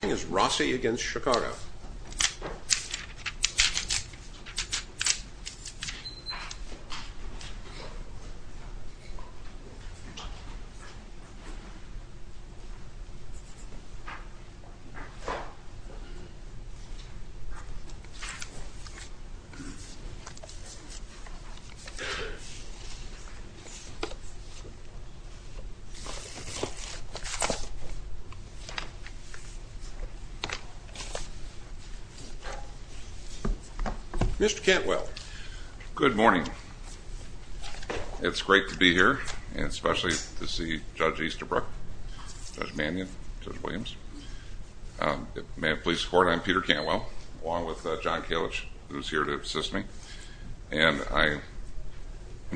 This is Rossi v. Chicago Mr. Cantwell Good morning. It's great to be here and especially to see Judge Easterbrook, Judge Mannion, Judge Williams. May it please the court, I'm Peter Cantwell along with John Kalich who's here to assist me. And I'm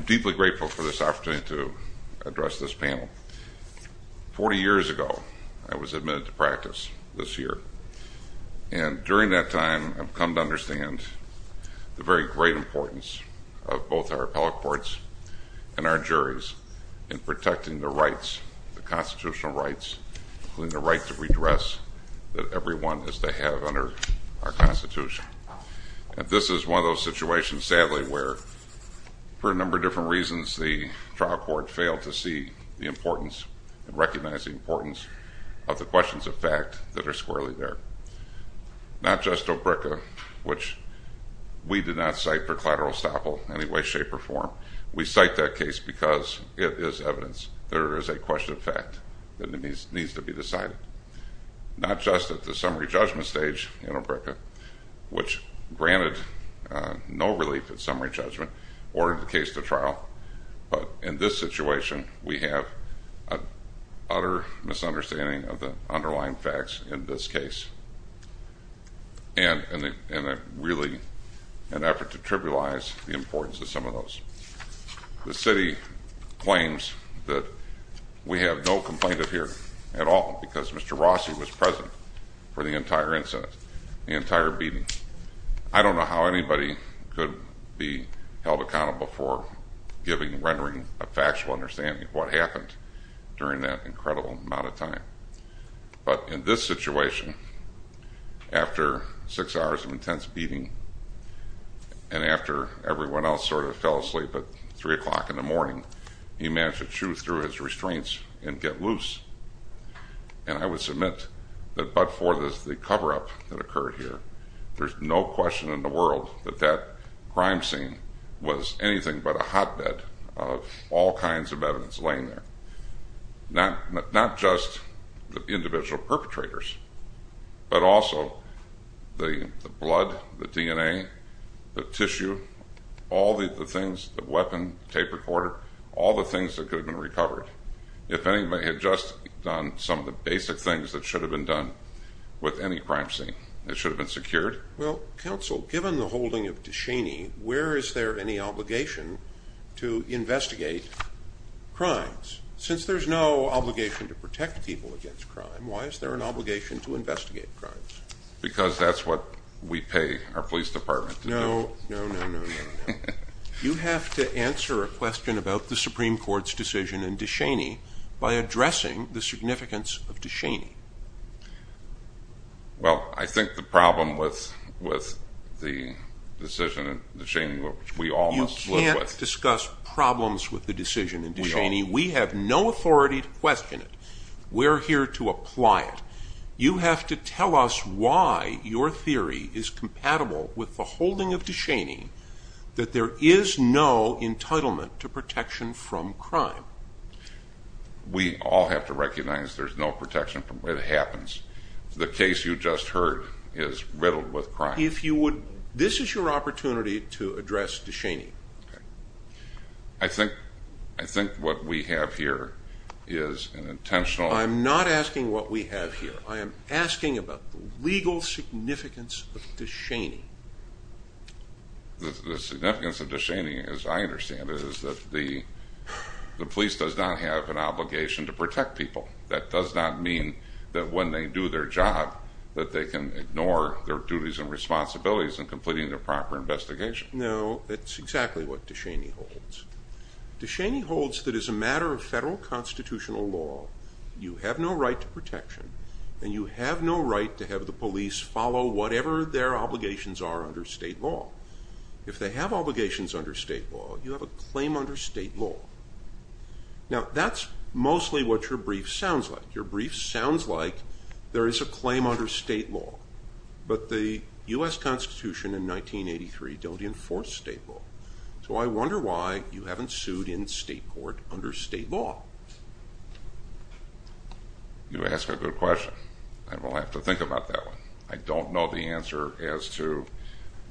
deeply grateful for this opportunity to address this panel. Forty years ago, I was admitted to practice this year. And during that time, I've come to understand the very great importance of both our appellate courts and our juries in protecting the rights, the constitutional rights, including the right to redress that everyone is to have under our Constitution. And this is one of those situations, sadly, where for a number of different reasons, the trial court failed to see the importance and recognize the importance of the questions of fact that are squarely there. Not just OBRCA, which we did not cite for collateral estoppel in any way, shape, or form. We cite that case because it is evidence that there is a question of fact that needs to be decided. Not just at the summary judgment stage in OBRCA, which granted no relief at summary judgment, or in the case to trial. But in this situation, we have an utter misunderstanding of the underlying facts in this case. And really an effort to trivialize the importance of some of those. The city claims that we have no complaint of here at all because Mr. Rossi was present for the entire incident, the entire beating. I don't know how anybody could be held accountable for giving, rendering a factual understanding of what happened during that incredible amount of time. But in this situation, after six hours of intense beating, and after everyone else sort of fell asleep at 3 o'clock in the morning, he managed to chew through his restraints and get loose. And I would submit that, but for the cover-up that occurred here, there's no question in the world that that crime scene was anything but a hotbed of all kinds of evidence laying there. Not just the individual perpetrators, but also the blood, the DNA, the tissue, all the things, the weapon, tape recorder, all the things that could have been recovered if anybody had just done some of the basic things that should have been done with any crime scene. It should have been secured. Well, counsel, given the holding of DeShaney, where is there any obligation to investigate crimes? Since there's no obligation to protect people against crime, why is there an obligation to investigate crimes? Because that's what we pay our police department to do. No, no, no, no, no, no. You have to answer a question about the Supreme Court's decision in DeShaney by addressing the significance of DeShaney. Well, I think the problem with the decision in DeShaney, which we all must live with... You can't discuss problems with the decision in DeShaney. We have no authority to question it. We're here to apply it. You have to tell us why your theory is compatible with the holding of DeShaney that there is no entitlement to protection from crime. We all have to recognize there's no protection from where it happens. The case you just heard is riddled with crime. This is your opportunity to address DeShaney. I think what we have here is an intentional... I'm not asking what we have here. I am asking about the legal significance of DeShaney. The significance of DeShaney, as I understand it, is that the police does not have an obligation to protect people. That does not mean that when they do their job that they can ignore their duties and responsibilities in completing their proper investigation. No, that's exactly what DeShaney holds. DeShaney holds that as a matter of federal constitutional law, you have no right to protection. And you have no right to have the police follow whatever their obligations are under state law. If they have obligations under state law, you have a claim under state law. Now, that's mostly what your brief sounds like. Your brief sounds like there is a claim under state law, but the U.S. Constitution in 1983 don't enforce state law. So I wonder why you haven't sued in state court under state law. You ask a good question. I will have to think about that one. I don't know the answer as to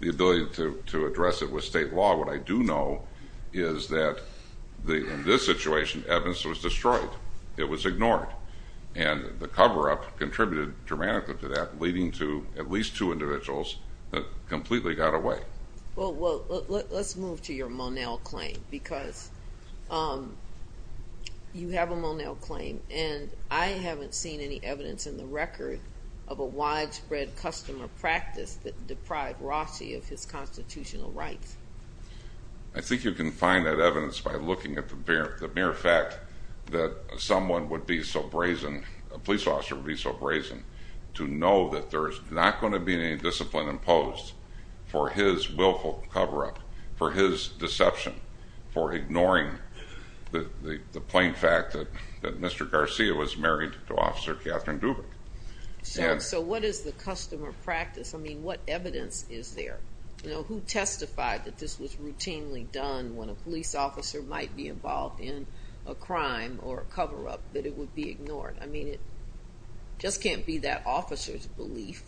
the ability to address it with state law. What I do know is that in this situation, evidence was destroyed. It was ignored. And the cover-up contributed dramatically to that, leading to at least two individuals that completely got away. Well, let's move to your Monell claim, because you have a Monell claim. And I haven't seen any evidence in the record of a widespread customer practice that deprived Rossi of his constitutional rights. I think you can find that evidence by looking at the mere fact that someone would be so brazen, a police officer would be so brazen, to know that there is not going to be any discipline imposed for his willful cover-up, for his deception, for ignoring the plain fact that Mr. Garcia was married to Officer Catherine Dubik. So what is the customer practice? I mean, what evidence is there? Who testified that this was routinely done when a police officer might be involved in a crime or a cover-up, that it would be ignored? I mean, it just can't be that officer's belief.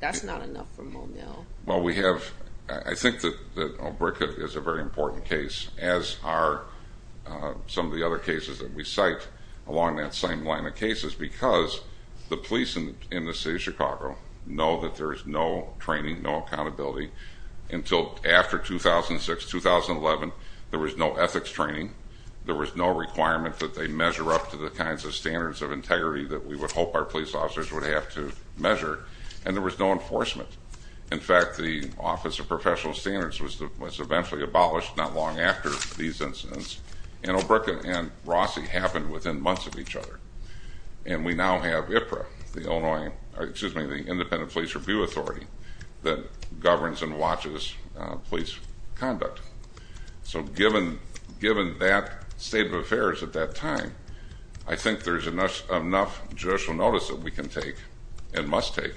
That's not enough for Monell. Well, we have – I think that Obreka is a very important case, as are some of the other cases that we cite along that same line of cases, because the police in the city of Chicago know that there is no training, no accountability, until after 2006, 2011. There was no ethics training. There was no requirement that they measure up to the kinds of standards of integrity that we would hope our police officers would have to measure. And there was no enforcement. In fact, the Office of Professional Standards was eventually abolished not long after these incidents, and Obreka and Rossi happened within months of each other. And we now have IPRA, the Independent Police Review Authority, that governs and watches police conduct. So given that state of affairs at that time, I think there is enough judicial notice that we can take and must take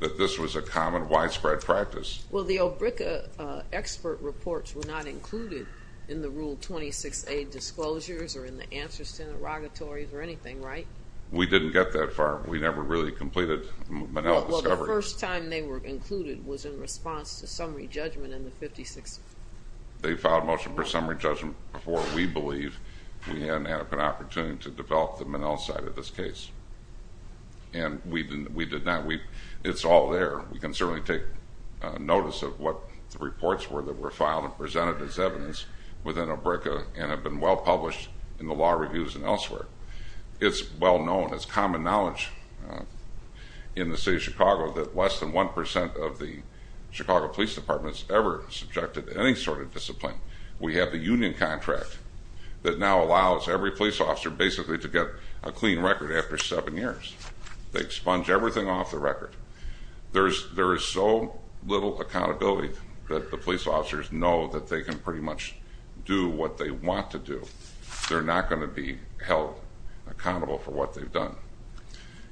that this was a common, widespread practice. Well, the Obreka expert reports were not included in the Rule 26a disclosures or in the answers to interrogatories or anything, right? We didn't get that far. We never really completed Monell's discovery. The first time they were included was in response to summary judgment in the 56th. They filed a motion for summary judgment before, we believe, we had an opportunity to develop the Monell side of this case. And we did not. It's all there. We can certainly take notice of what the reports were that were filed and presented as evidence within Obreka and have been well-published in the law reviews and elsewhere. It's well-known. It's common knowledge in the city of Chicago that less than 1% of the Chicago Police Department has ever subjected to any sort of discipline. We have a union contract that now allows every police officer basically to get a clean record after seven years. They expunge everything off the record. There is so little accountability that the police officers know that they can pretty much do what they want to do. They're not going to be held accountable for what they've done.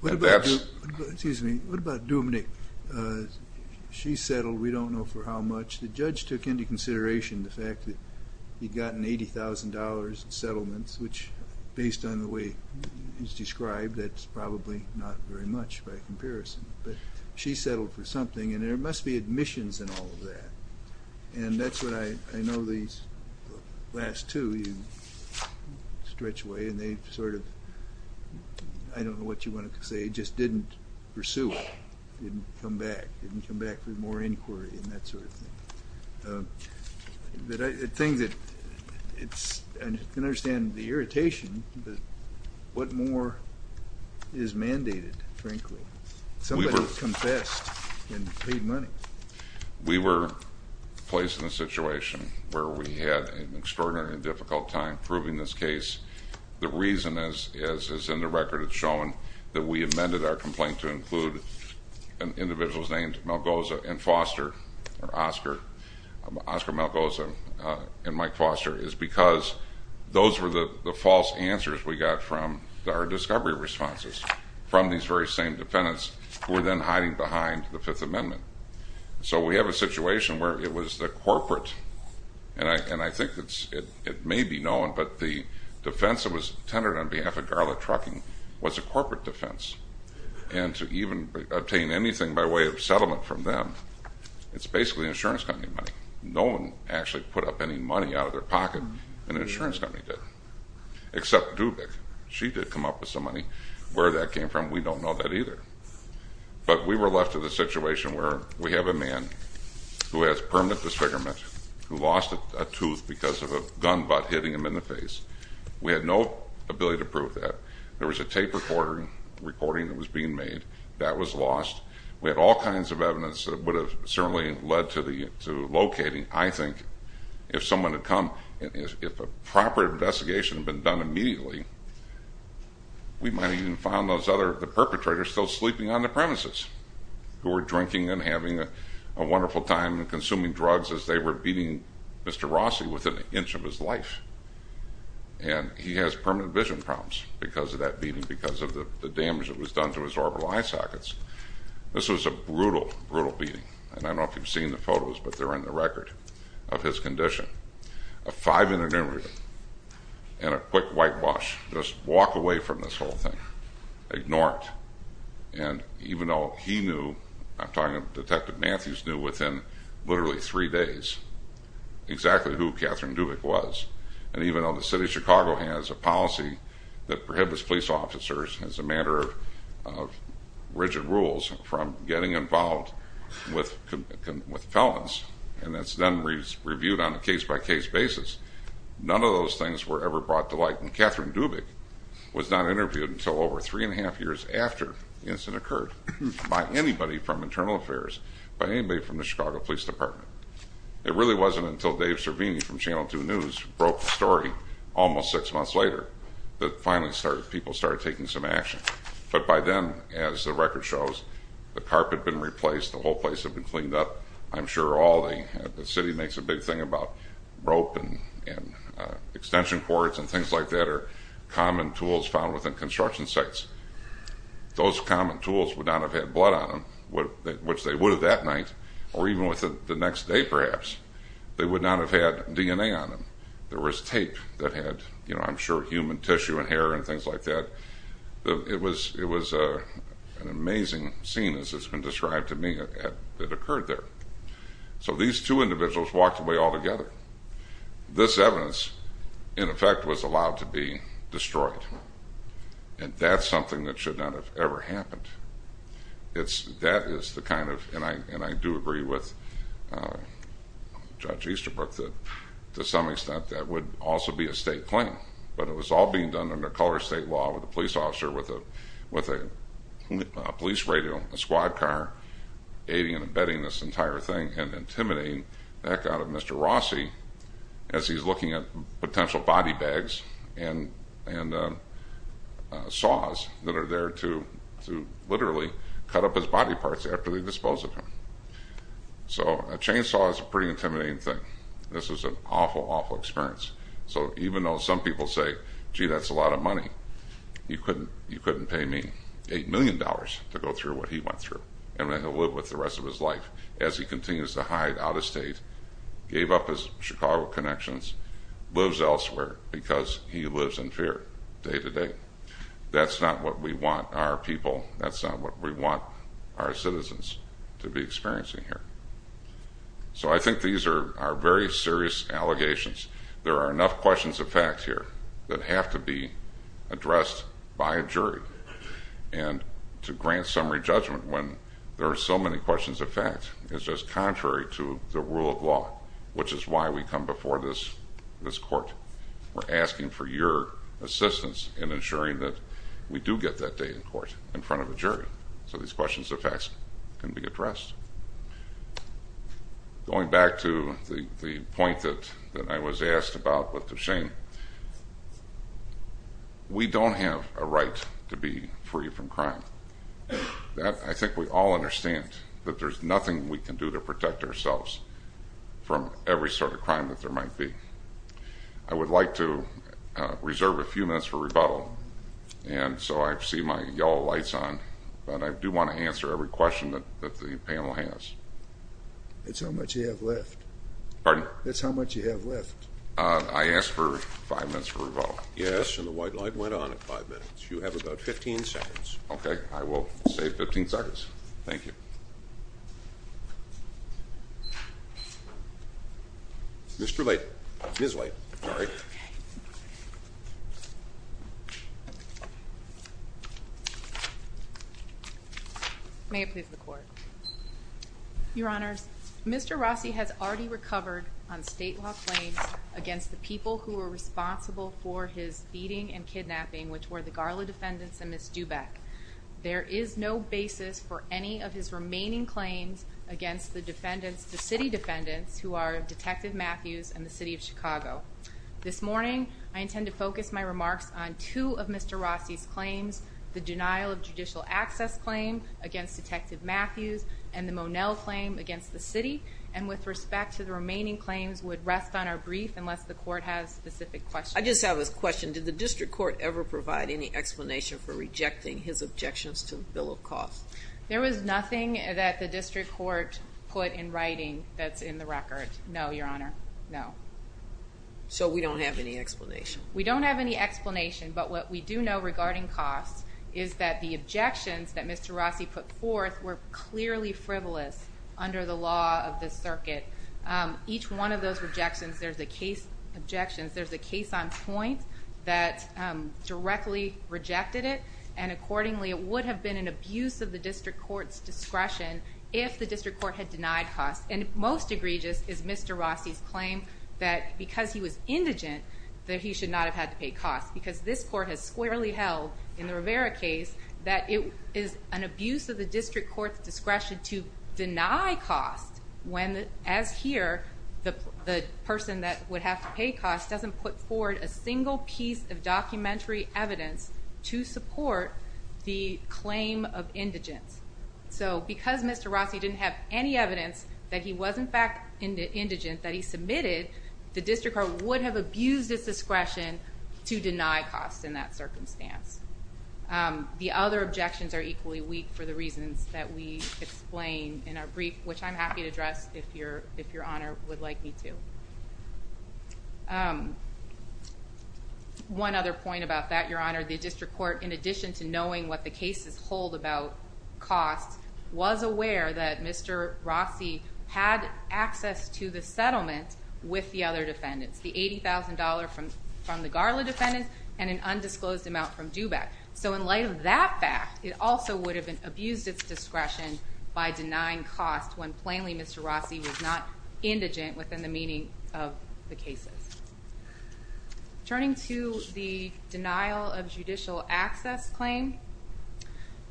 Excuse me. What about Dubnyk? She settled, we don't know for how much. The judge took into consideration the fact that he'd gotten $80,000 in settlements, which based on the way he's described, that's probably not very much by comparison. But she settled for something, and there must be admissions in all of that. And that's what I know these last two, you stretch away and they sort of, I don't know what you want to say, just didn't pursue it, didn't come back, didn't come back for more inquiry and that sort of thing. The thing that it's, I can understand the irritation, but what more is mandated, frankly? Somebody has confessed and paid money. We were placed in a situation where we had an extraordinarily difficult time proving this case. The reason is, as in the record it's shown, that we amended our complaint to include individuals named Malgoza and Foster, or Oscar Malgoza and Mike Foster, is because those were the false answers we got from our discovery responses from these very same defendants who were then hiding behind the Fifth Amendment. So we have a situation where it was the corporate, and I think it may be known, but the defense that was tendered on behalf of Garlic Trucking was a corporate defense. And to even obtain anything by way of settlement from them, it's basically insurance company money. No one actually put up any money out of their pocket, and the insurance company did, except Dubik. She did come up with some money. Where that came from, we don't know that either. But we were left with a situation where we have a man who has permanent disfigurement, who lost a tooth because of a gun butt hitting him in the face. We had no ability to prove that. There was a tape recording that was being made. That was lost. We had all kinds of evidence that would have certainly led to locating, I think, if someone had come. If a proper investigation had been done immediately, we might have even found the perpetrator still sleeping on the premises, who were drinking and having a wonderful time and consuming drugs as they were beating Mr. Rossi with an inch of his life. And he has permanent vision problems because of that beating, because of the damage that was done to his orbital eye sockets. This was a brutal, brutal beating, and I don't know if you've seen the photos, but they're in the record of his condition. A five-minute interview and a quick whitewash. Just walk away from this whole thing. Ignore it. And even though he knew, I'm talking Detective Matthews knew within literally three days exactly who Catherine Dubik was, and even though the city of Chicago has a policy that prohibits police officers, as a matter of rigid rules, from getting involved with felons, and that's then reviewed on a case-by-case basis, none of those things were ever brought to light. And Catherine Dubik was not interviewed until over three and a half years after the incident occurred by anybody from Internal Affairs, by anybody from the Chicago Police Department. It really wasn't until Dave Cervini from Channel 2 News broke the story almost six months later that finally people started taking some action. But by then, as the record shows, the carpet had been replaced, the whole place had been cleaned up. I'm sure all the city makes a big thing about rope and extension cords and things like that are common tools found within construction sites. Those common tools would not have had blood on them, which they would have that night, or even within the next day perhaps. They would not have had DNA on them. There was tape that had, I'm sure, human tissue and hair and things like that. It was an amazing scene, as it's been described to me, that occurred there. So these two individuals walked away altogether. This evidence, in effect, was allowed to be destroyed, and that's something that should not have ever happened. That is the kind of, and I do agree with Judge Easterbrook, that to some extent that would also be a state claim. But it was all being done under color state law with a police officer with a police radio, a squad car aiding and abetting this entire thing and intimidating the heck out of Mr. Rossi as he's looking at potential body bags and saws that are there to literally cut up his body parts after they dispose of him. So a chainsaw is a pretty intimidating thing. This was an awful, awful experience. So even though some people say, gee, that's a lot of money, you couldn't pay me $8 million to go through what he went through and that he'll live with the rest of his life as he continues to hide out of state, gave up his Chicago connections, lives elsewhere because he lives in fear day to day. That's not what we want our people, that's not what we want our citizens to be experiencing here. So I think these are very serious allegations. There are enough questions of fact here that have to be addressed by a jury. And to grant summary judgment when there are so many questions of fact is just contrary to the rule of law, which is why we come before this court. We're asking for your assistance in ensuring that we do get that day in court in front of a jury so these questions of facts can be addressed. Going back to the point that I was asked about with the shame, we don't have a right to be free from crime. I think we all understand that there's nothing we can do to protect ourselves from every sort of crime that there might be. I would like to reserve a few minutes for rebuttal, and so I see my yellow lights on, but I do want to answer every question that the panel has. That's how much you have left. Pardon? That's how much you have left. I asked for five minutes for rebuttal. Yes, and the white light went on at five minutes. You have about 15 seconds. Okay, I will say 15 seconds. Thank you. Mr. Light. Ms. Light. Sorry. May it please the Court. Your Honors, Mr. Rossi has already recovered on state law claims against the people who were responsible for his beating and kidnapping, which were the Garla defendants and Ms. Dubeck. There is no basis for any of his remaining claims against the city defendants, who are Detective Matthews and the City of Chicago. This morning, I intend to focus my remarks on two of Mr. Rossi's claims, the denial of judicial access claim against Detective Matthews and the Monell claim against the city, and with respect to the remaining claims would rest on our brief, unless the Court has specific questions. I just have a question. Did the district court ever provide any explanation for rejecting his objections to the bill of costs? There was nothing that the district court put in writing that's in the record. No, Your Honor, no. So we don't have any explanation? We don't have any explanation, but what we do know regarding costs is that the objections that Mr. Rossi put forth were clearly frivolous under the law of the circuit. Each one of those objections, there's a case on point that directly rejected it, and accordingly, it would have been an abuse of the district court's discretion if the district court had denied costs. And most egregious is Mr. Rossi's claim that because he was indigent, that he should not have had to pay costs, because this court has squarely held in the Rivera case that it is an abuse of the district court's discretion to deny costs when, as here, the person that would have to pay costs doesn't put forward a single piece of documentary evidence to support the claim of indigence. So because Mr. Rossi didn't have any evidence that he was, in fact, indigent, that he submitted, the district court would have abused its discretion to deny costs in that circumstance. The other objections are equally weak for the reasons that we explain in our brief, which I'm happy to address if Your Honor would like me to. One other point about that, Your Honor, the district court, in addition to knowing what the cases hold about costs, was aware that Mr. Rossi had access to the settlement with the other defendants, the $80,000 from the Garla defendants and an undisclosed amount from Dubac. So in light of that fact, it also would have abused its discretion by denying costs when plainly Mr. Rossi was not indigent within the meaning of the cases. Turning to the denial of judicial access claim,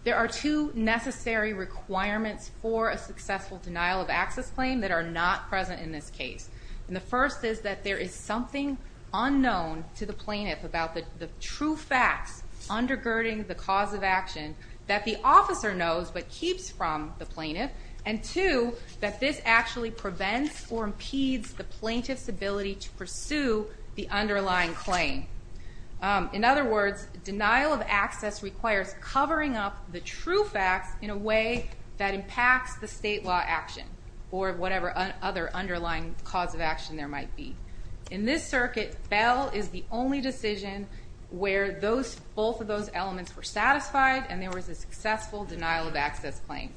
there are two necessary requirements for a successful denial of access claim that are not present in this case. The first is that there is something unknown to the plaintiff about the true facts undergirding the cause of action that the officer knows but keeps from the plaintiff. And two, that this actually prevents or impedes the plaintiff's ability to pursue the underlying claim. In other words, denial of access requires covering up the true facts in a way that impacts the state law action or whatever other underlying cause of action there might be. In this circuit, Bell is the only decision where both of those elements were satisfied and there was a successful denial of access claim.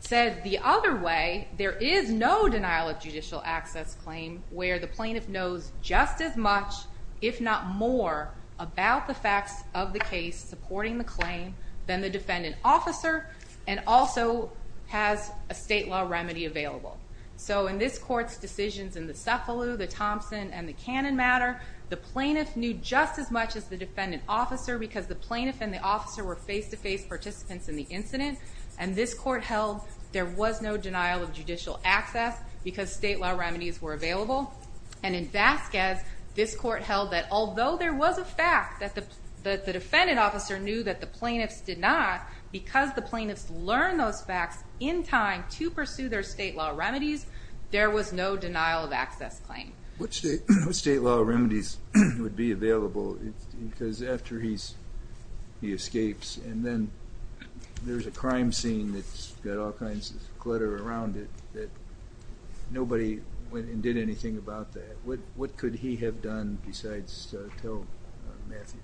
Said the other way, there is no denial of judicial access claim where the plaintiff knows just as much, if not more, about the facts of the case supporting the claim than the defendant officer and also has a state law remedy available. So in this court's decisions in the Cefalu, the Thompson, and the Cannon matter, the plaintiff knew just as much as the defendant officer because the plaintiff and the officer were face-to-face participants in the incident, and this court held there was no denial of judicial access because state law remedies were available. And in Vasquez, this court held that although there was a fact that the defendant officer knew that the plaintiffs did not, because the plaintiffs learned those facts in time to pursue their state law remedies, there was no denial of access claim. What state law remedies would be available because after he escapes and then there's a crime scene that's got all kinds of clutter around it that nobody went and did anything about that. What could he have done besides tell Matthews?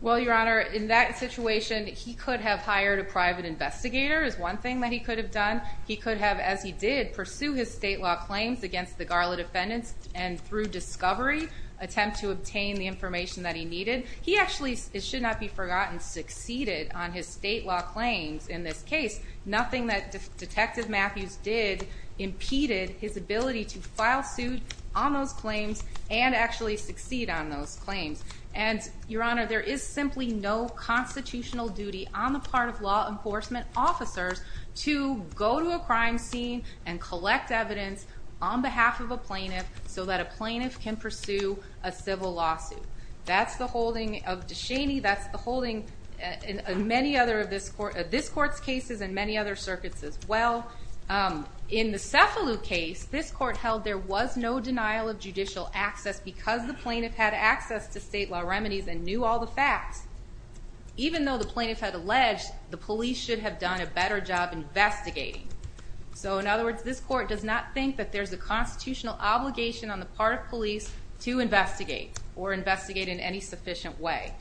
Well, Your Honor, in that situation, he could have hired a private investigator is one thing that he could have done. He could have, as he did, pursue his state law claims against the Garland defendants and through discovery, attempt to obtain the information that he needed. He actually, it should not be forgotten, succeeded on his state law claims in this case. Nothing that Detective Matthews did impeded his ability to file suit on those claims and actually succeed on those claims. And, Your Honor, there is simply no constitutional duty on the part of law enforcement officers to go to a crime scene and collect evidence on behalf of a plaintiff so that a plaintiff can pursue a civil lawsuit. That's the holding of DeShaney. That's the holding in many other of this court's cases and many other circuits as well. In the Cefalu case, this court held there was no denial of judicial access because the plaintiff had access to state law remedies and knew all the facts. Even though the plaintiff had alleged, the police should have done a better job investigating. So, in other words, this court does not think that there's a constitutional obligation on the part of police to investigate or investigate in any sufficient way.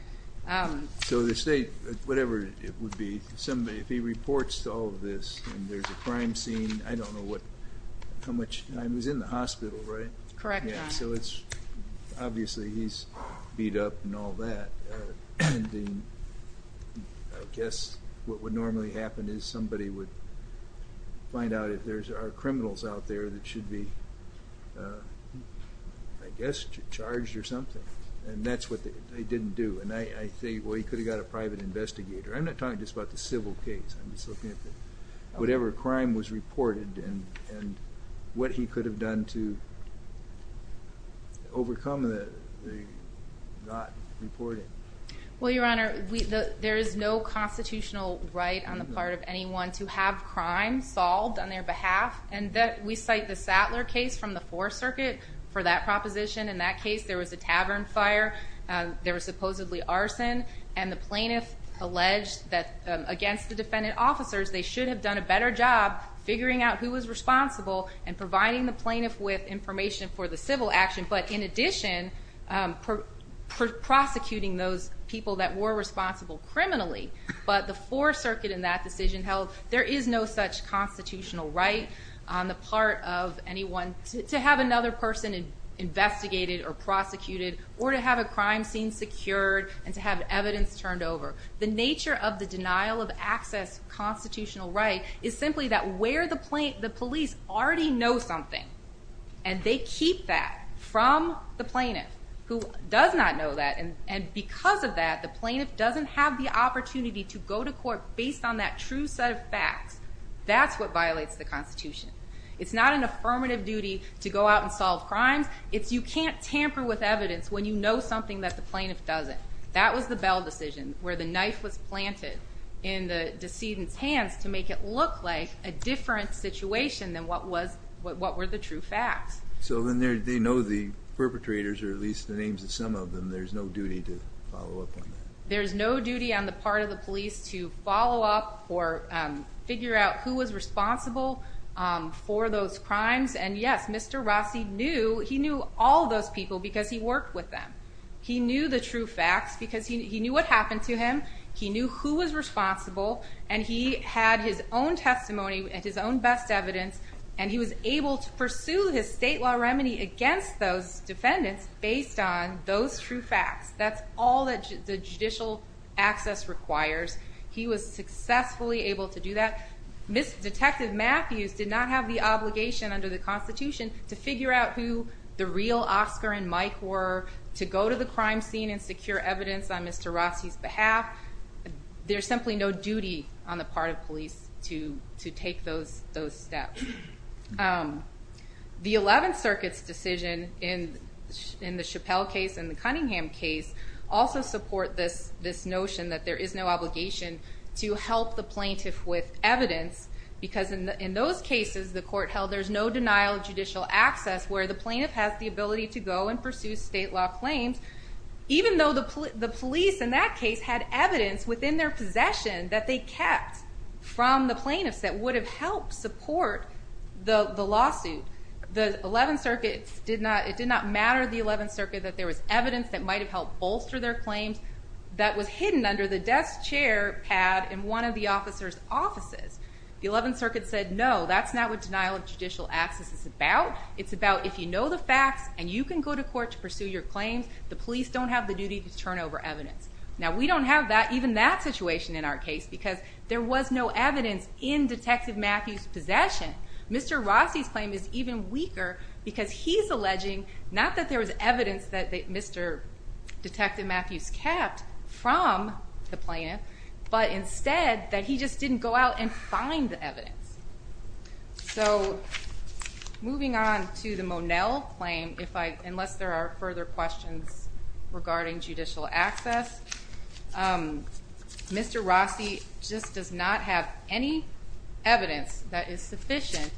So the state, whatever it would be, if he reports to all of this and there's a crime scene, I don't know how much time he's in the hospital, right? Correct, Your Honor. So obviously he's beat up and all that. I guess what would normally happen is somebody would find out if there are criminals out there that should be, I guess, charged or something. And that's what they didn't do. And I think, well, he could have got a private investigator. I'm not talking just about the civil case. I'm just looking at whatever crime was reported and what he could have done to overcome the not reporting. Well, Your Honor, there is no constitutional right on the part of anyone to have crime solved on their behalf. And we cite the Sattler case from the Fourth Circuit for that proposition. In that case, there was a tavern fire. There was supposedly arson. And the plaintiff alleged that against the defendant officers, they should have done a better job figuring out who was responsible and providing the plaintiff with information for the civil action. But in addition, prosecuting those people that were responsible criminally. But the Fourth Circuit in that decision held there is no such constitutional right on the part of anyone to have another person investigated or prosecuted or to have a crime scene secured and to have evidence turned over. The nature of the denial of access constitutional right is simply that where the police already know something and they keep that from the plaintiff who does not know that. And because of that, the plaintiff doesn't have the opportunity to go to court based on that true set of facts. That's what violates the Constitution. It's not an affirmative duty to go out and solve crimes. It's you can't tamper with evidence when you know something that the plaintiff doesn't. That was the Bell decision, where the knife was planted in the decedent's hands to make it look like a different situation than what were the true facts. So then they know the perpetrators or at least the names of some of them. There's no duty to follow up on that. There's no duty on the part of the police to follow up or figure out who was responsible for those crimes. And yes, Mr. Rossi knew. He knew all those people because he worked with them. He knew the true facts because he knew what happened to him. He knew who was responsible, and he had his own testimony and his own best evidence, and he was able to pursue his state law remedy against those defendants based on those true facts. That's all that the judicial access requires. He was successfully able to do that. Detective Matthews did not have the obligation under the Constitution to figure out who the real Oscar and Mike were, to go to the crime scene and secure evidence on Mr. Rossi's behalf. There's simply no duty on the part of police to take those steps. The Eleventh Circuit's decision in the Chappelle case and the Cunningham case also support this notion that there is no obligation to help the plaintiff with evidence because in those cases the court held there's no denial of judicial access where the plaintiff has the ability to go and pursue state law claims, even though the police in that case had evidence within their possession that they kept from the plaintiffs that would have helped support the lawsuit. It did not matter to the Eleventh Circuit that there was evidence that might have helped bolster their claims that was hidden under the desk chair pad in one of the officer's offices. The Eleventh Circuit said, No, that's not what denial of judicial access is about. It's about if you know the facts and you can go to court to pursue your claims, the police don't have the duty to turn over evidence. Now we don't have even that situation in our case because there was no evidence in Detective Matthews' possession. Mr. Rossi's claim is even weaker because he's alleging not that there was evidence that Mr. Detective Matthews kept from the plaintiff, but instead that he just didn't go out and find the evidence. So moving on to the Monell claim, unless there are further questions regarding judicial access, Mr. Rossi just does not have any evidence that is sufficient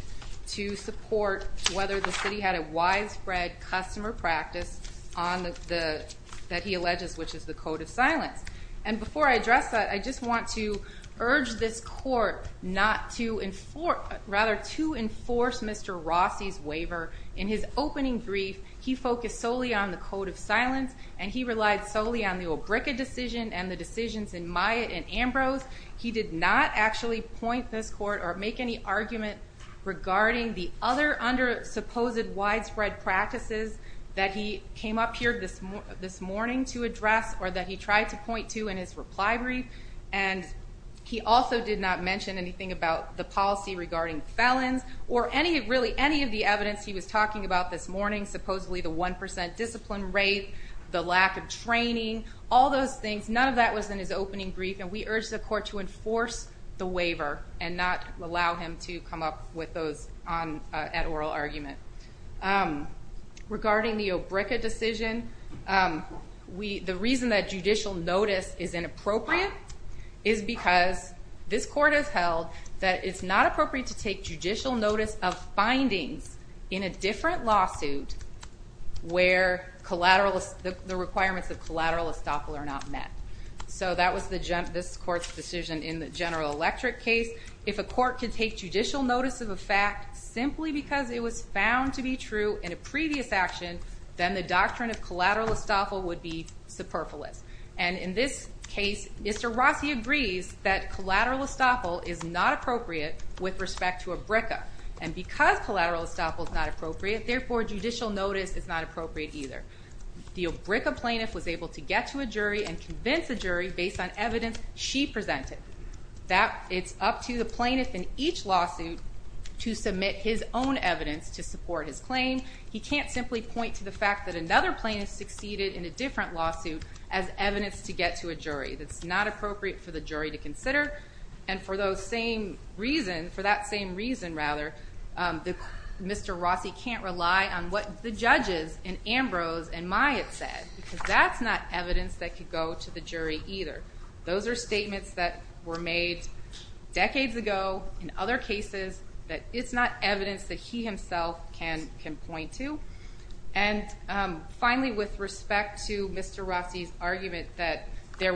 to support whether the city had a widespread customer practice that he alleges, which is the code of silence. And before I address that, I just want to urge this court to enforce Mr. Rossi's waiver. In his opening brief, he focused solely on the code of silence and he relied solely on the Olbrichka decision and the decisions in Myatt and Ambrose. He did not actually point this court or make any argument regarding the other under-supposed widespread practices that he came up here this morning to address or that he tried to point to in his reply brief. And he also did not mention anything about the policy regarding felons or really any of the evidence he was talking about this morning, supposedly the 1% discipline rate, the lack of training, all those things. None of that was in his opening brief, and we urge the court to enforce the waiver and not allow him to come up with those at oral argument. Regarding the Olbrichka decision, the reason that judicial notice is inappropriate is because this court has held that it's not appropriate to take judicial notice of findings in a different lawsuit where the requirements of collateral estoppel are not met. So that was this court's decision in the General Electric case. If a court could take judicial notice of a fact simply because it was found to be true in a previous action, then the doctrine of collateral estoppel would be superfluous. And in this case, Mr. Rossi agrees that collateral estoppel is not appropriate with respect to Olbrichka. And because collateral estoppel is not appropriate, therefore judicial notice is not appropriate either. The Olbrichka plaintiff was able to get to a jury and convince a jury based on evidence she presented that it's up to the plaintiff in each lawsuit to submit his own evidence to support his claim. He can't simply point to the fact that another plaintiff succeeded in a different lawsuit as evidence to get to a jury. That's not appropriate for the jury to consider. And for that same reason, Mr. Rossi can't rely on what the judges in Ambrose and Myatt said because that's not evidence that could go to the jury either. Those are statements that were made decades ago in other cases that it's not evidence that he himself can point to. And finally, with respect to Mr. Rossi's argument that there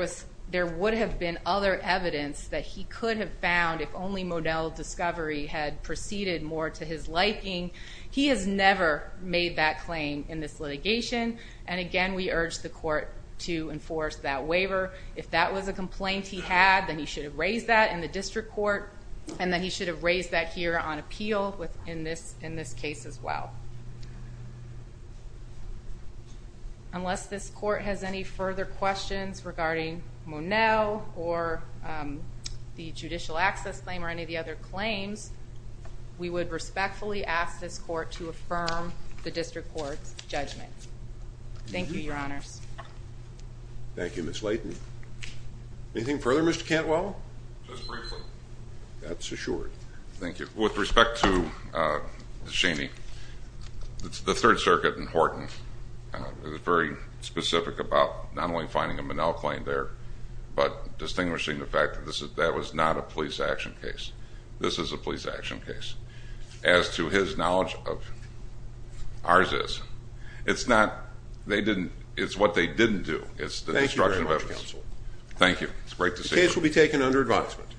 would have been other evidence that he could have found if only Modell Discovery had proceeded more to his liking, he has never made that claim in this litigation. And again, we urge the court to enforce that waiver if that was a complaint he had, then he should have raised that in the district court and then he should have raised that here on appeal in this case as well. Unless this court has any further questions regarding Modell or the judicial access claim or any of the other claims, we would respectfully ask this court to affirm the district court's judgment. Thank you, Your Honors. Thank you, Ms. Layton. Anything further, Mr. Cantwell? Just briefly. That's assured. Thank you. With respect to Ms. Cheney, the Third Circuit in Horton is very specific about not only finding a Monell claim there but distinguishing the fact that that was not a police action case. This is a police action case. As to his knowledge of ours is. It's what they didn't do. It's the destruction of evidence. Thank you very much, Counsel. Thank you. It's great to see you. The case will be taken under advisement.